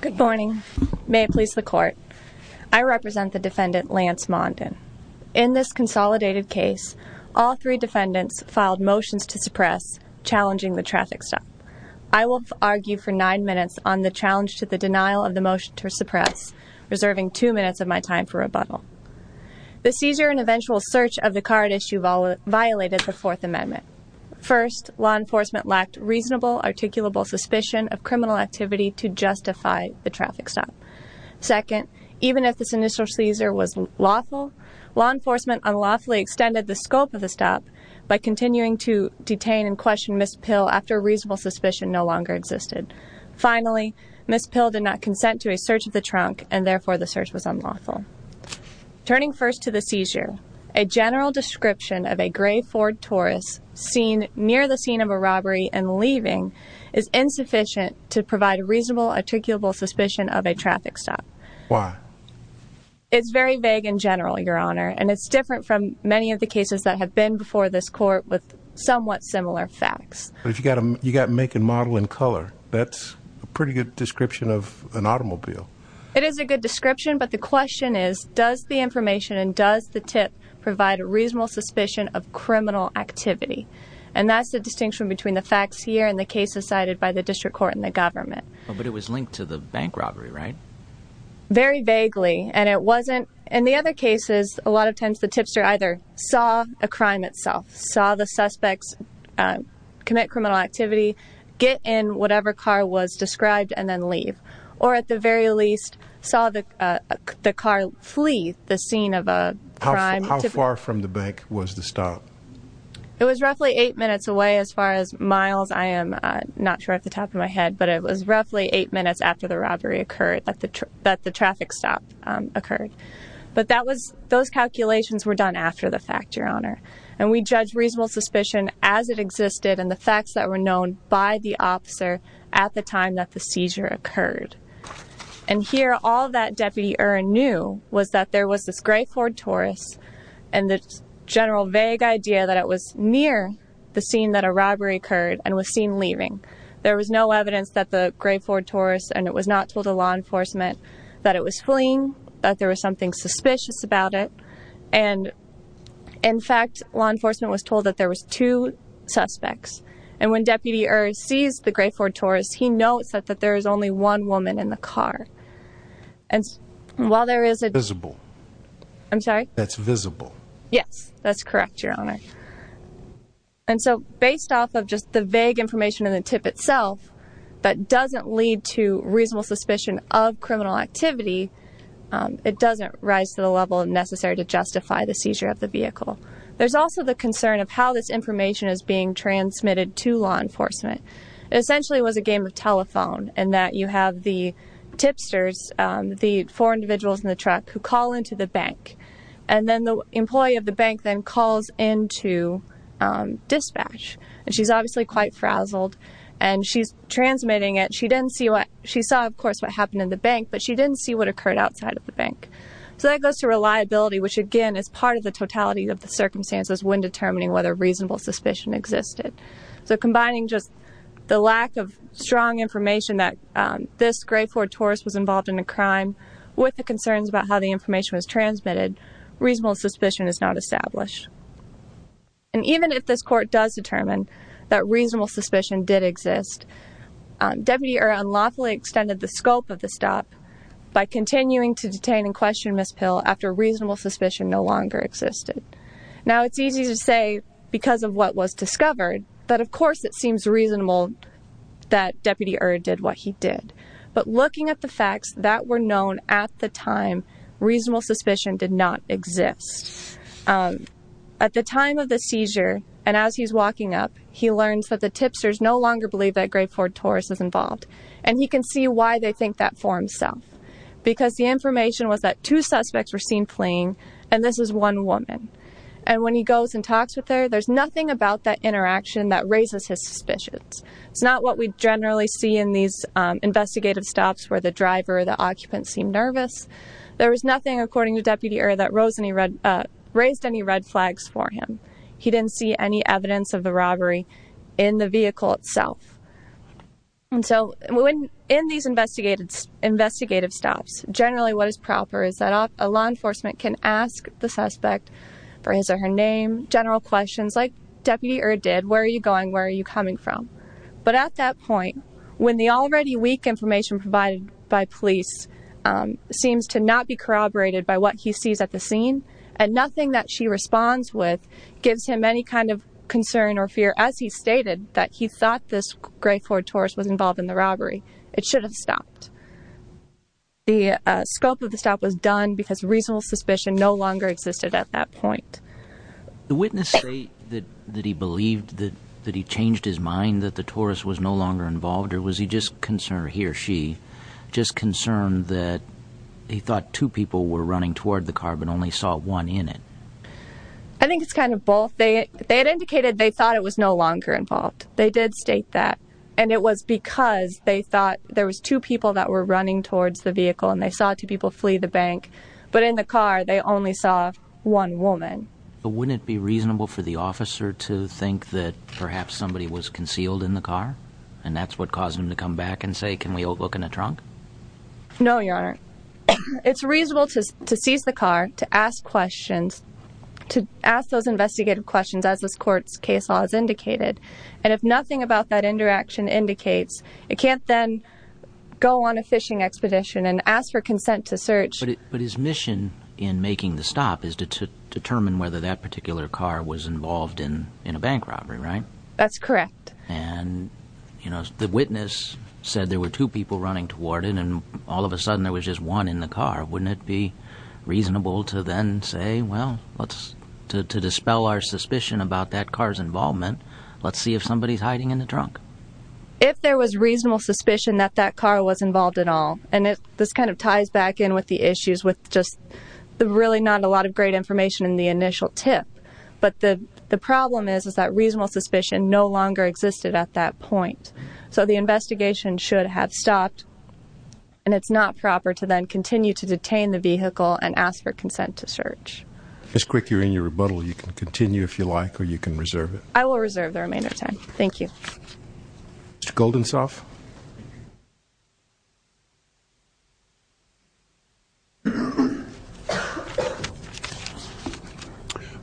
Good morning. May it please the court. I represent the defendant Lance Mondin. In this consolidated case, all three defendants filed motions to suppress challenging the traffic stop. I will argue for nine minutes on the challenge to the denial of the motion to suppress, reserving two minutes of my time for rebuttal. The seizure and eventual search of the card issue violated the fourth amendment. First, law enforcement lacked reasonable articulable suspicion of criminal activity to justify the traffic stop. Second, even if this initial seizure was lawful, law enforcement unlawfully extended the scope of the stop by continuing to detain and question Ms. Pill after reasonable suspicion no longer existed. Finally, Ms. Pill did not consent to a search of the trunk and therefore the search was unlawful. Turning first to the seizure, a general description of a gray Ford Taurus seen near the scene of a robbery and leaving is insufficient to provide a reasonable articulable suspicion of a traffic stop. Why? It's very vague in general, your honor, and it's different from many of the cases that have been before this court with somewhat similar facts. But if you got a you got make and model in color, that's a pretty good description of an automobile. It is a good description, but the question is, does the information and does the tip provide a reasonable suspicion of criminal activity? And that's the distinction between the facts here and the cases cited by the district court and the government. But it was linked to the bank robbery, right? Very vaguely. And it wasn't. And the other cases, a lot of times the tipster either saw a crime itself, saw the suspects commit criminal activity, get in whatever car was the car, flee the scene of a crime. How far from the bank was the stop? It was roughly eight minutes away as far as miles. I am not sure at the top of my head, but it was roughly eight minutes after the robbery occurred that the that the traffic stop occurred. But that was those calculations were done after the fact, your honor. And we judge reasonable suspicion as it existed and the facts that were known by the officer at the time that seizure occurred. And here, all that deputy earned knew was that there was this gray Ford Taurus and the general vague idea that it was near the scene that a robbery occurred and was seen leaving. There was no evidence that the gray Ford Taurus and it was not told to law enforcement that it was fleeing, that there was something suspicious about it. And in fact, law enforcement was told that there was two suspects. And when deputy or sees the gray Ford Taurus, he notes that, that there is only one woman in the car. And while there is a visible, I'm sorry, that's visible. Yes, that's correct. Your honor. And so based off of just the vague information in the tip itself, that doesn't lead to reasonable suspicion of criminal activity. It doesn't rise to the level of necessary to justify the seizure of the vehicle. There's also the concern of how this information is being transmitted to law enforcement. It essentially was a game of telephone and that you have the tipsters, the four individuals in the truck who call into the bank and then the employee of the bank then calls into dispatch. And she's obviously quite frazzled and she's transmitting it. She didn't see what she saw, of course, what happened in the bank, but she didn't see what occurred outside of the bank. So that goes to reliability, which again, is part of the totality of the circumstances when determining whether reasonable suspicion existed. So combining just the lack of strong information that this gray Ford Taurus was involved in a crime with the concerns about how the information was transmitted, reasonable suspicion is not established. And even if this court does determine that reasonable suspicion did exist, deputy or unlawfully extended the scope of the stop by continuing to detain and question miss pill after reasonable suspicion no longer existed. Now it's easy to say because of what was discovered, but of course it seems reasonable that deputy or did what he did, but looking at the facts that were known at the time, reasonable suspicion did not exist. At the time of the seizure. And as he's walking up, he learns that the tipsters no longer believe that great Ford Taurus is involved. And he can see why they think that for himself, because the information was that two suspects were seen playing. And this is one woman. And when he goes and talks with her, there's nothing about that interaction that raises his suspicions. It's not what we generally see in these investigative stops where the driver, the occupant seemed nervous. There was nothing according to deputy or that rose any red, uh, raised any red flags for him. He didn't see any evidence of the robbery in the vehicle itself. And so when in these investigated investigative stops, generally what is proper is that a law enforcement can ask the suspect for his or her name, general questions like deputy or did, where are you going? Where are you coming from? But at that point, when the already weak information provided by police, um, seems to not be corroborated by what he sees at the scene and nothing that she responds with gives him any concern or fear as he stated that he thought this great Ford Taurus was involved in the robbery. It should have stopped. The scope of the stop was done because reasonable suspicion no longer existed at that point. The witness say that, that he believed that, that he changed his mind, that the Taurus was no longer involved, or was he just concerned here? She just concerned that he thought two people were running toward the car, but only saw one in it. I think it's kind of both. They, they had indicated they thought it was no longer involved. They did state that. And it was because they thought there was two people that were running towards the vehicle and they saw two people flee the bank, but in the car, they only saw one woman. But wouldn't it be reasonable for the officer to think that perhaps somebody was concealed in the car and that's what caused him to come back and say, can we look in the trunk? No, Your Honor. It's reasonable to, to seize the car, to ask questions, to ask those investigative questions as this court's case law has indicated. And if nothing about that interaction indicates, it can't then go on a fishing expedition and ask for consent to search. But his mission in making the stop is to determine whether that particular car was involved in, in a bank robbery, right? That's correct. And you know, the witness said there were two people running toward it and all of a sudden there was just one in the car. Wouldn't it be reasonable to then say, well, let's, to, to dispel our suspicion about that car's involvement. Let's see if somebody is hiding in the trunk. If there was reasonable suspicion that that car was involved at all. And it, this kind of ties back in with the issues with just the really not a lot of great information in the initial tip. But the, the problem is, is that reasonable suspicion no longer existed at that point. So the investigation should have stopped and it's not proper to then continue to detain the vehicle and ask for consent to search. Ms. Crick, you're in your rebuttal. You can continue if you like, or you can reserve it. I will reserve the remainder of time. Thank you. Mr. Goldensoff.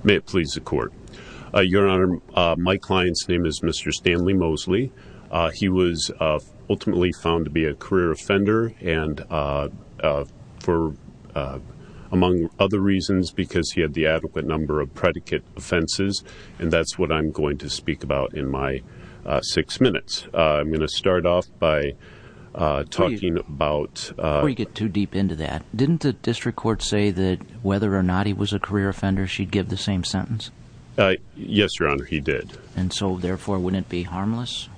May it please the court. Your Honor, my client's name is Mr. Stanley Mosley. He was ultimately found to be a career offender and for, among other reasons, because he had the adequate number of predicate offenses. And that's what I'm going to speak about in my six minutes. I'm going to start off by talking about... Before you get too deep into that, didn't the district court say that whether or not he was a career offender, she'd give the same sentence? Yes, Your Honor, he did. And so therefore, wouldn't it be harmless?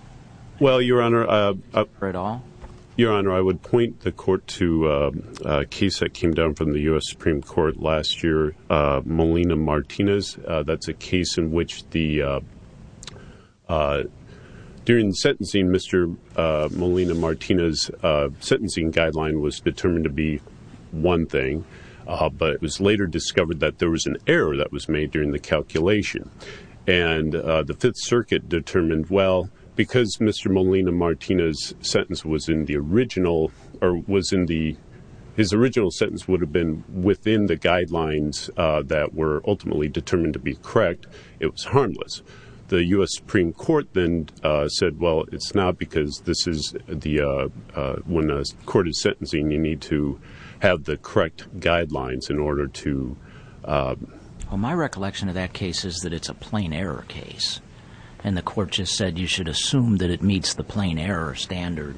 Well, Your Honor, Your Honor, I would point the court to a case that came down from the Mr. Molina-Martinez sentencing guideline was determined to be one thing, but it was later discovered that there was an error that was made during the calculation. And the Fifth Circuit determined, well, because Mr. Molina-Martinez sentence was in the original or was in the... His original sentence would have been within the guidelines that were ultimately determined to be it's not because this is the... When a court is sentencing, you need to have the correct guidelines in order to... Well, my recollection of that case is that it's a plain error case. And the court just said, you should assume that it meets the plain error standard.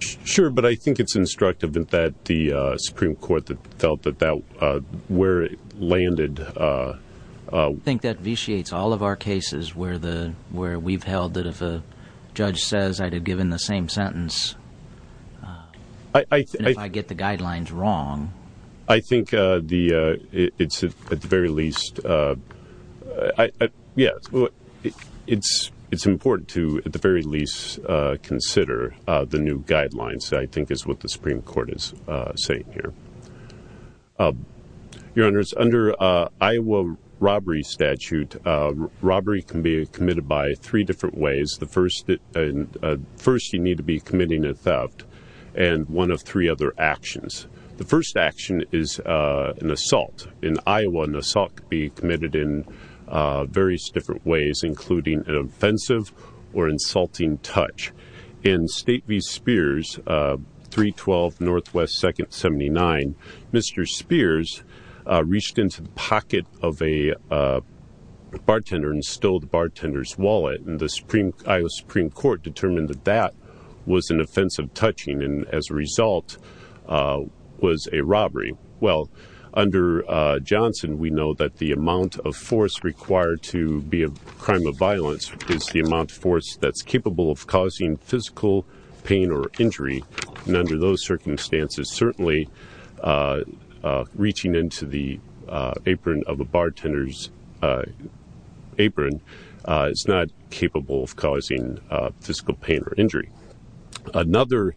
Sure, but I think it's instructive that the Supreme Court felt that where it landed... I think that vitiates all of our cases where we've held that if a judge says I'd have given the same sentence, and if I get the guidelines wrong... I think it's at the very least... Yes, it's important to at the very least consider the new guidelines, I think is what the Supreme Court said. Robbery can be committed by three different ways. The first, you need to be committing a theft, and one of three other actions. The first action is an assault. In Iowa, an assault could be committed in various different ways, including an offensive or insulting touch. In State v. Spears, 312 NW 2nd 79, Mr. Spears reached into the pocket of a bartender and stole the bartender's wallet, and the Iowa Supreme Court determined that that was an offensive touching, and as a result, was a robbery. Well, under Johnson, we know that the amount of force required to be a crime of and under those circumstances, certainly reaching into the apron of a bartender's apron is not capable of causing physical pain or injury. Another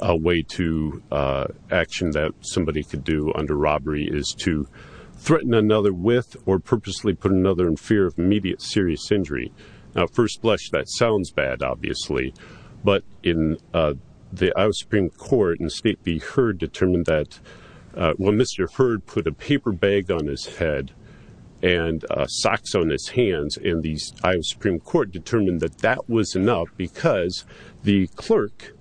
way to... action that somebody could do under robbery is to threaten another with or purposely put another in fear of immediate serious injury. Now, first blush, that sounds bad, obviously, but in the Iowa Supreme Court and State v. Heard determined that when Mr. Heard put a paper bag on his head and socks on his hands, and the Iowa Supreme Court determined that that was enough because the clerk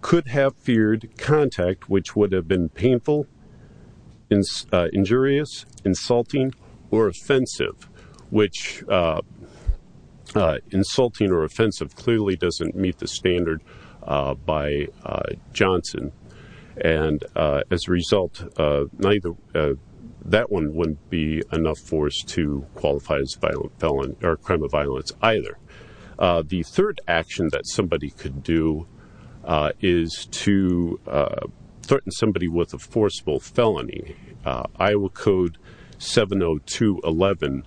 could have feared contact which would have been doesn't meet the standard by Johnson, and as a result, that one wouldn't be enough force to qualify as a violent felon or crime of violence either. The third action that somebody could do is to threaten somebody with a forcible felony. Iowa Code 70211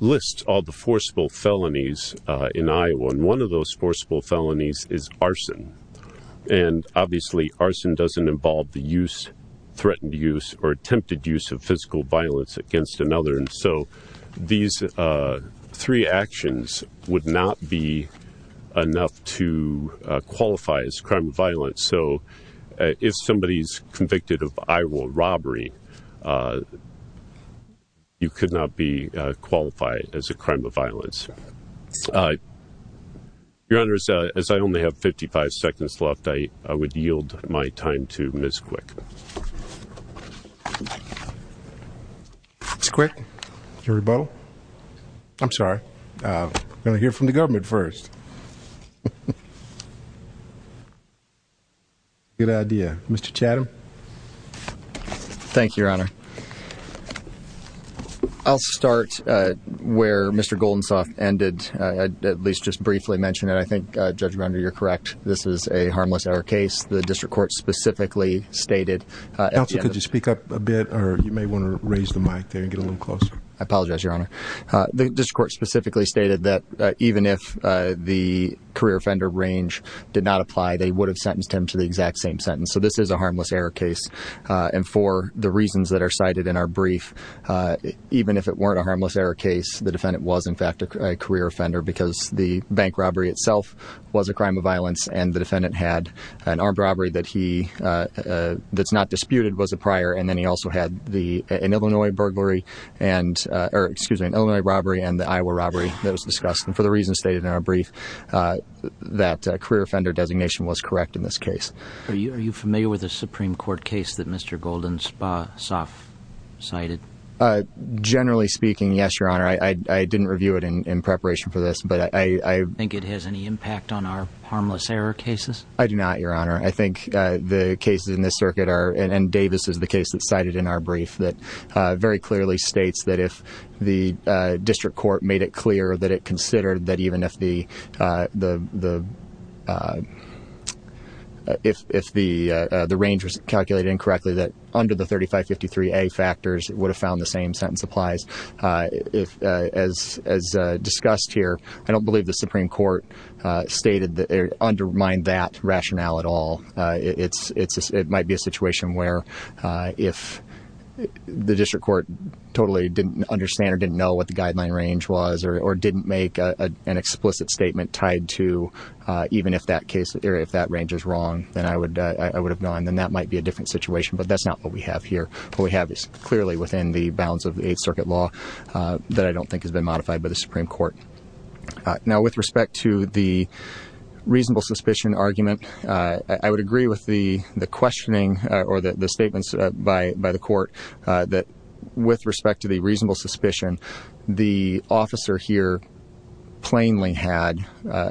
lists all the forcible felonies in Iowa, and one of those forcible felonies is arson, and obviously arson doesn't involve the use, threatened use, or attempted use of physical violence against another, and so these three actions would not be enough to qualify as crime of violence. So if somebody's convicted of Iowa robbery, uh, you could not be qualified as a crime of violence. Uh, Your Honor, as I only have 55 seconds left, I would yield my time to Ms. Quick. Ms. Quick, your rebuttal? I'm sorry, uh, I'm gonna hear from the government first. Good idea. Mr. Chatham. Thank you, Your Honor. I'll start, uh, where Mr. Goldensoft ended, uh, at least just briefly mentioned it. I think, uh, Judge Render, you're correct. This is a harmless hour case. The district court specifically stated, uh, could you speak up a bit or you may want to raise the mic there and get a little closer? I apologize, Your Honor. Uh, the district court specifically stated that, uh, even if, uh, the career offender range did not apply, they would have sentenced him to the exact same sentence. So this is a harmless error case. Uh, and for the reasons that are cited in our brief, uh, even if it weren't a harmless error case, the defendant was in fact a career offender because the bank robbery itself was a crime of violence. And the defendant had an armed robbery that he, uh, uh, that's not disputed was a prior. And then he also had the, an Illinois burglary and, uh, or excuse me, an Illinois robbery and the Iowa robbery that was discussed. And for the reasons stated in our brief, uh, that a career offender designation was correct in this case. Are you, are you familiar with a Supreme court case that Mr. Golden's, uh, soft cited? Uh, generally speaking, yes, Your Honor. I, I, I didn't review it in preparation for this, but I think it has any impact on our harmless error cases. I do not, Your Honor. I think, uh, the cases in this circuit are, and Davis is the case that cited in our brief that, uh, very clearly states that if the, uh, district court made it clear that it considered that even if the, uh, the, the, uh, if, if the, uh, the range was calculated incorrectly that under the 3553 a factors would have found the same sentence applies. Uh, if, uh, as, as, uh, discussed here, I don't believe the Supreme court, uh, stated that it undermined that rationale at all. Uh, it's, it's, it might be a situation where, uh, if the district court totally didn't understand or didn't know what the guideline range was or didn't make an explicit statement tied to, uh, even if that case area, if that range is wrong, then I would, uh, I would have gone, then that might be a different situation, but that's not what we have here. What we have is clearly within the bounds of the eighth circuit law, uh, that I don't think has court. Uh, now with respect to the reasonable suspicion argument, uh, I would agree with the, the questioning, uh, or the, the statements by, by the court, uh, that with respect to the reasonable suspicion, the officer here plainly had, uh,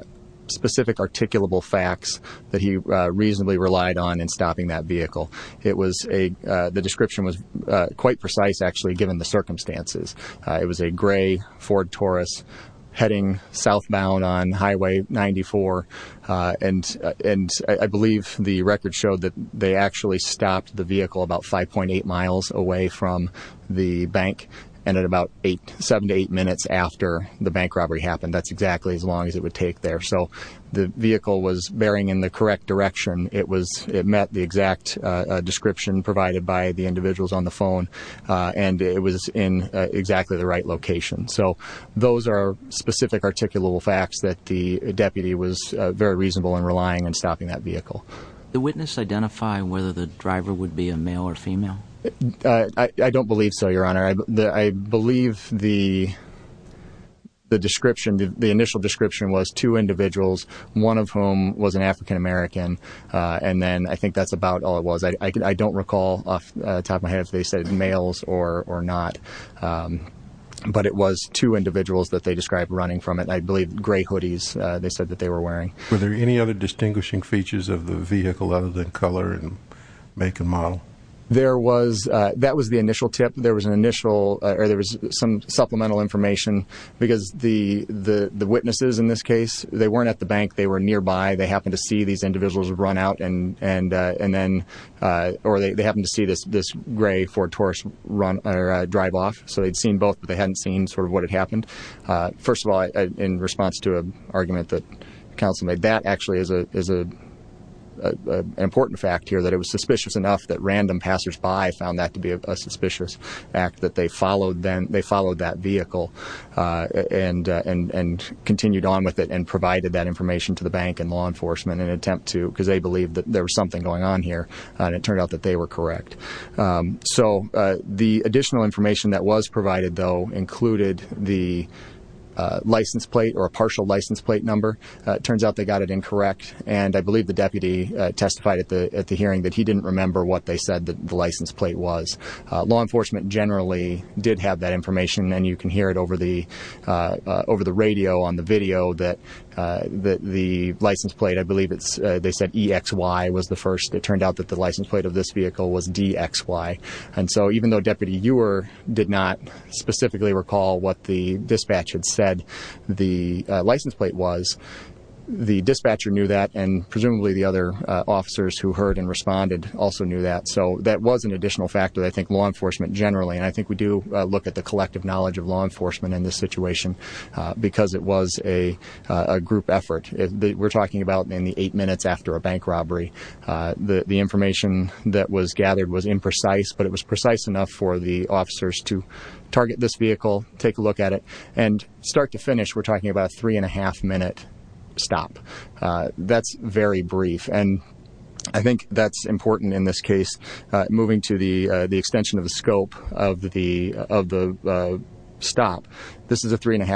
specific articulable facts that he, uh, reasonably relied on in stopping that vehicle. It was a, uh, the description was, uh, it was a Ford Taurus heading southbound on highway 94. Uh, and, uh, and I believe the record showed that they actually stopped the vehicle about 5.8 miles away from the bank. And at about eight, seven to eight minutes after the bank robbery happened, that's exactly as long as it would take there. So the vehicle was bearing in the correct direction. It was, it met the exact, uh, description provided by the individuals on the phone, uh, and it was in exactly the right location. So those are specific articulable facts that the deputy was very reasonable in relying and stopping that vehicle. The witness identify whether the driver would be a male or female? Uh, I don't believe so, your honor. I believe the, the description, the initial description was two individuals, one of whom was an African American. Uh, and then I think that's but it was two individuals that they described running from it. I believe gray hoodies, uh, they said that they were wearing. Were there any other distinguishing features of the vehicle other than color and make a model? There was, uh, that was the initial tip. There was an initial, uh, or there was some supplemental information because the, the, the witnesses in this case, they weren't at the bank, they were nearby. They happened to see these individuals would run out and, and, uh, and then, uh, or they, they happened to see this, this gray Ford Taurus run or drive off. So they'd seen both, but they hadn't seen sort of what had happened. Uh, first of all, in response to an argument that counsel made, that actually is a, is a, an important fact here that it was suspicious enough that random passersby found that to be a suspicious act, that they followed them. They followed that vehicle, uh, and, uh, and, and continued on with it and provided that information to the bank and law enforcement and attempt to, because they believed that there was something going on here and it turned out that they were correct. Um, so, uh, the additional information that was provided though, included the, uh, license plate or a partial license plate number. Uh, it turns out they got it incorrect. And I believe the deputy, uh, testified at the, at the hearing that he didn't remember what they said that the license plate was, uh, law enforcement generally did have that information. And you can hear it over the, uh, uh, over the radio on the video that, uh, that the license plate, I believe it's, uh, they was the first, it turned out that the license plate of this vehicle was DXY. And so even though deputy Ewer did not specifically recall what the dispatch had said the, uh, license plate was, the dispatcher knew that and presumably the other, uh, officers who heard and responded also knew that. So that was an additional factor that I think law enforcement generally, and I think we do look at the collective knowledge of law enforcement in this situation, uh, because it was a, uh, a robbery. Uh, the, the information that was gathered was imprecise, but it was precise enough for the officers to target this vehicle, take a look at it and start to finish. We're talking about a three and a half minute stop. Uh, that's very brief. And I think that's important in this case, uh, moving to the, uh, the extension of the scope of the, of the, uh, stop. This is a three and a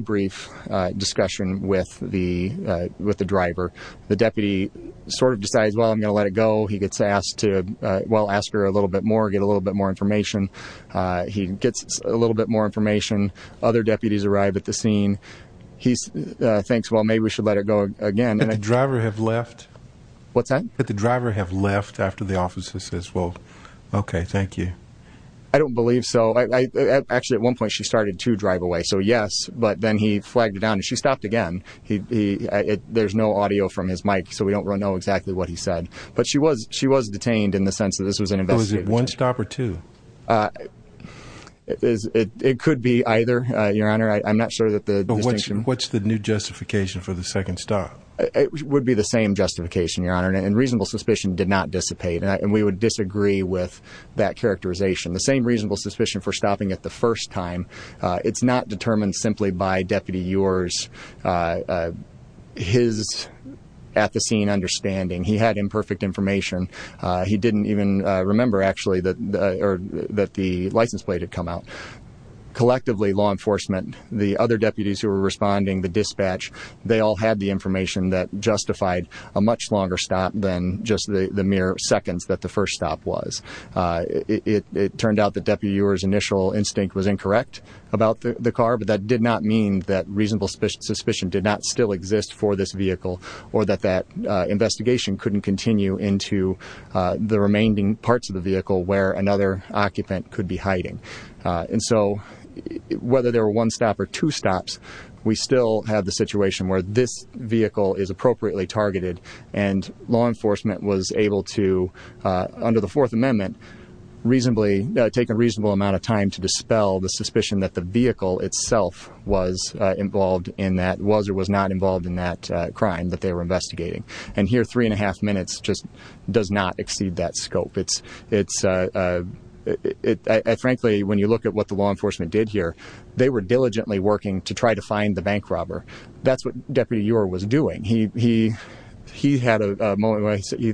brief, uh, discussion with the, uh, with the driver, the deputy sort of decides, well, I'm going to let it go. He gets asked to, uh, well, ask her a little bit more, get a little bit more information. Uh, he gets a little bit more information. Other deputies arrived at the scene. He's, uh, thinks, well, maybe we should let it go again. And the driver have left. What's that? That the driver have left after the officer says, well, okay, thank you. I don't believe so. I, I, actually at one point she started to drive away. So yes, but then he flagged it down and she stopped again. He, he, there's no audio from his mic, so we don't know exactly what he said, but she was, she was detained in the sense that this was an investigation. Was it one stop or two? Is it, it could be either, uh, your Honor. I'm not sure that the distinction. What's the new justification for the second stop? It would be the same justification, your Honor. And reasonable suspicion did not dissipate. And we would disagree with that characterization. The same reasonable suspicion for stopping at the first time. Uh, it's not determined simply by deputy yours, uh, uh, his at the scene understanding he had imperfect information. Uh, he didn't even remember actually that, uh, or that the license plate had come out collectively law enforcement, the other deputies who were responding, the dispatch, they all had the information that justified a much longer stop than just the mere seconds that the first stop was. Uh, it, it, it turned out that deputy yours initial instinct was incorrect about the car, but that did not mean that reasonable suspicion, suspicion did not still exist for this vehicle or that that, uh, investigation couldn't continue into, uh, the remaining parts of the vehicle where another occupant could be hiding. Uh, and so whether there were one stop or two stops, we still have the situation where this enforcement was able to, uh, under the fourth amendment, reasonably take a reasonable amount of time to dispel the suspicion that the vehicle itself was involved in that was, or was not involved in that, uh, crime that they were investigating. And here, three and a half minutes just does not exceed that scope. It's, it's, uh, uh, it, I, frankly, when you look at what the law enforcement did here, they were diligently working to try to find the bank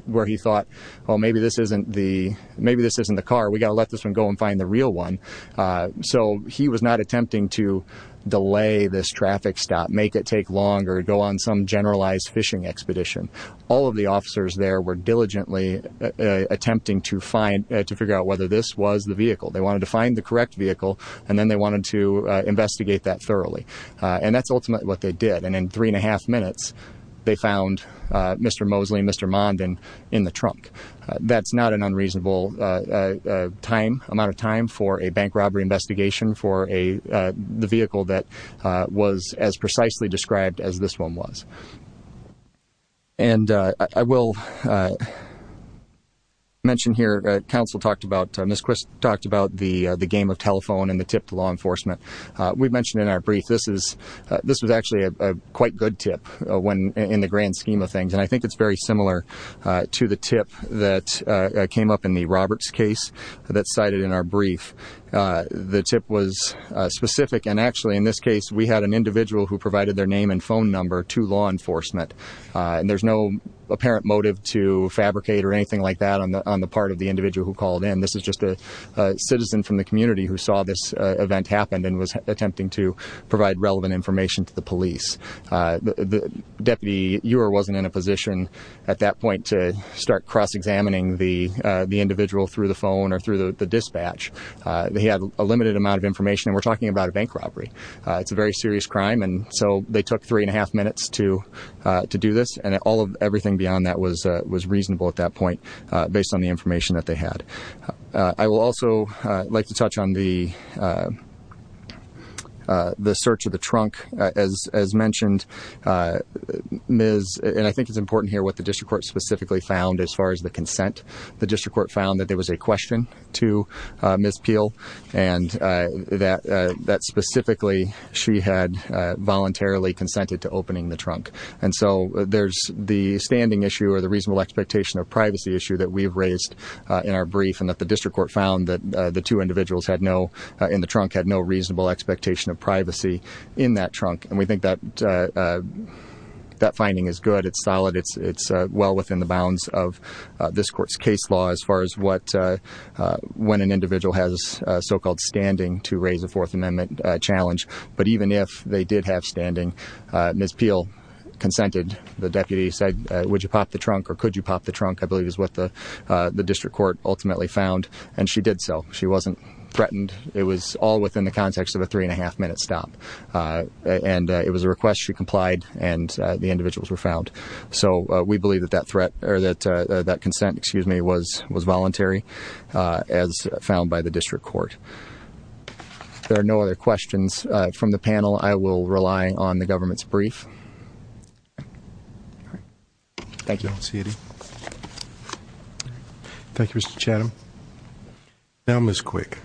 where he thought, well, maybe this isn't the, maybe this isn't the car. We got to let this one go and find the real one. Uh, so he was not attempting to delay this traffic stop, make it take longer, go on some generalized fishing expedition. All of the officers there were diligently attempting to find, uh, to figure out whether this was the vehicle they wanted to find the correct vehicle. And then they wanted to investigate that thoroughly. Uh, and that's in the trunk. Uh, that's not an unreasonable, uh, uh, uh, time, amount of time for a bank robbery investigation for a, uh, the vehicle that, uh, was as precisely described as this one was. And, uh, I will, uh, mention here, uh, counsel talked about, uh, Ms. Quist talked about the, uh, the game of telephone and the tip to law enforcement. Uh, we've mentioned in our brief, this is, uh, this was actually a, a quite good tip, uh, when, in the grand scheme of things. And I think it's very similar, uh, to the tip that, uh, came up in the Roberts case that cited in our brief. Uh, the tip was, uh, specific. And actually in this case, we had an individual who provided their name and phone number to law enforcement. Uh, and there's no apparent motive to fabricate or anything like that on the, on the part of the individual who called in. This is just a, uh, citizen from the community who saw this, uh, event happened and was attempting to provide relevant information to the police. Uh, the at that point to start cross-examining the, uh, the individual through the phone or through the, the dispatch, uh, they had a limited amount of information and we're talking about a bank robbery. Uh, it's a very serious crime. And so they took three and a half minutes to, uh, to do this and all of everything beyond that was, uh, was reasonable at that point, uh, based on the information that they had. Uh, I will also, uh, like to touch on the, uh, uh, the search of the specifically found as far as the consent, the district court found that there was a question to, uh, Ms. Peel and, uh, that, uh, that specifically she had, uh, voluntarily consented to opening the trunk. And so there's the standing issue or the reasonable expectation of privacy issue that we've raised, uh, in our brief and that the district court found that, uh, the two individuals had no, uh, in the trunk had no reasonable expectation of privacy in that trunk. And we think that, uh, uh, that finding is good. It's solid. It's, it's, uh, well within the bounds of, uh, this court's case law as far as what, uh, uh, when an individual has a so-called standing to raise a fourth amendment challenge. But even if they did have standing, uh, Ms. Peel consented, the deputy said, uh, would you pop the trunk or could you pop the trunk? I believe is what the, uh, the district court ultimately found. And she did. So she wasn't threatened. It was all within the context of a three and a half minute stop. Uh, and, uh, it was a request she complied and, uh, the individuals were found. So, uh, we believe that that threat or that, uh, that consent, excuse me, was, was voluntary, uh, as found by the district court. There are no other questions, uh, from the panel. I will rely on the government's brief. All right. Thank you. Thank you, Mr. Chatham. Now, Ms. Quick.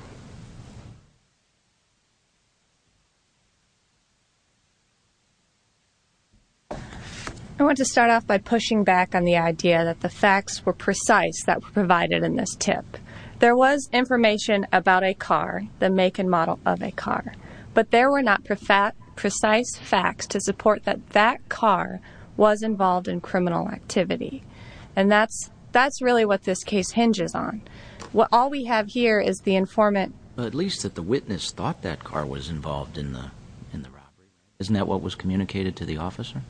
I want to start off by pushing back on the idea that the facts were precise that were provided in this tip. There was information about a car, the make and model of a car, but there were not precise facts to support that that car was involved in criminal activity. And that's, that's really what this case hinges on. What all we have here is the informant, at least that the witness thought that car was involved in the, in the robbery. Isn't that what was communicated to the officer?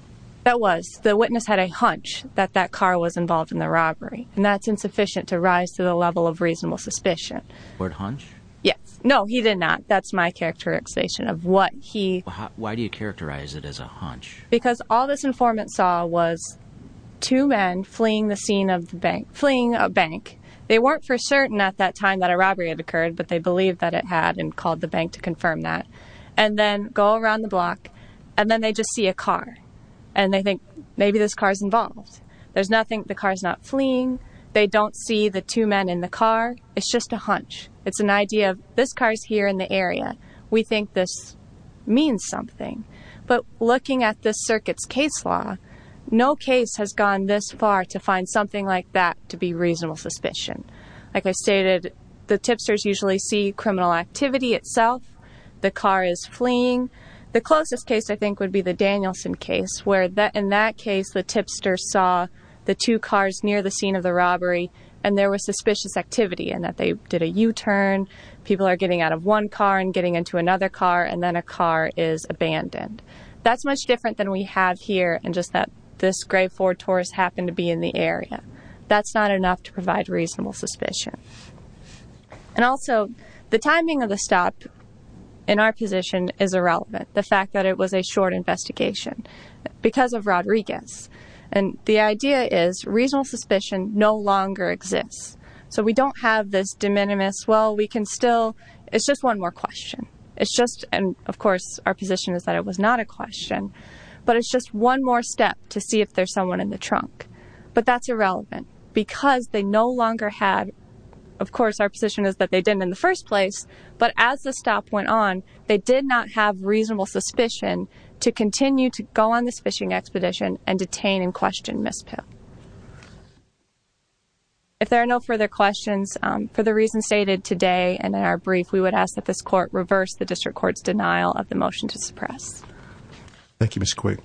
That was the witness had a hunch that that car was involved in the robbery and that's insufficient to rise to the level of reasonable suspicion. Word hunch. Yes. No, he did not. That's my characterization of what he, why do you characterize it as a hunch? Because all this informant saw was two men fleeing the scene of the bank, fleeing a bank. They weren't for certain at that time that a robbery had occurred, but they believe that it had and called the bank to confirm that and then go around the block and then they just see a car and they think maybe this car is involved. There's nothing. The it's just a hunch. It's an idea of this car is here in the area. We think this means something, but looking at this circuits case law, no case has gone this far to find something like that to be reasonable suspicion. Like I stated, the tipsters usually see criminal activity itself. The car is fleeing. The closest case I think would be the Danielson case where that in that case, the tipster saw the two cars near the scene of the robbery and there was suspicious activity and that they did a U-turn. People are getting out of one car and getting into another car and then a car is abandoned. That's much different than we have here and just that this gray Ford Taurus happened to be in the area. That's not enough to provide reasonable suspicion. And also the timing of the stop in our position is irrelevant. The fact that it was a short investigation because of Rodriguez. And the idea is reasonable suspicion no longer exists. So we don't have this de minimis. Well, we can still, it's just one more question. It's just, and of course our position is that it was not a question, but it's just one more step to see if there's someone in the trunk, but that's irrelevant because they no longer have. Of course, our position is that they didn't in the first place, but as the stop went on, they did not have reasonable suspicion to continue to go on this fishing expedition and detain and question Ms. Pipp. If there are no further questions for the reasons stated today and in our brief, we would ask that this court reverse the district court's denial of the motion to suppress. Thank you, Ms. Quigg.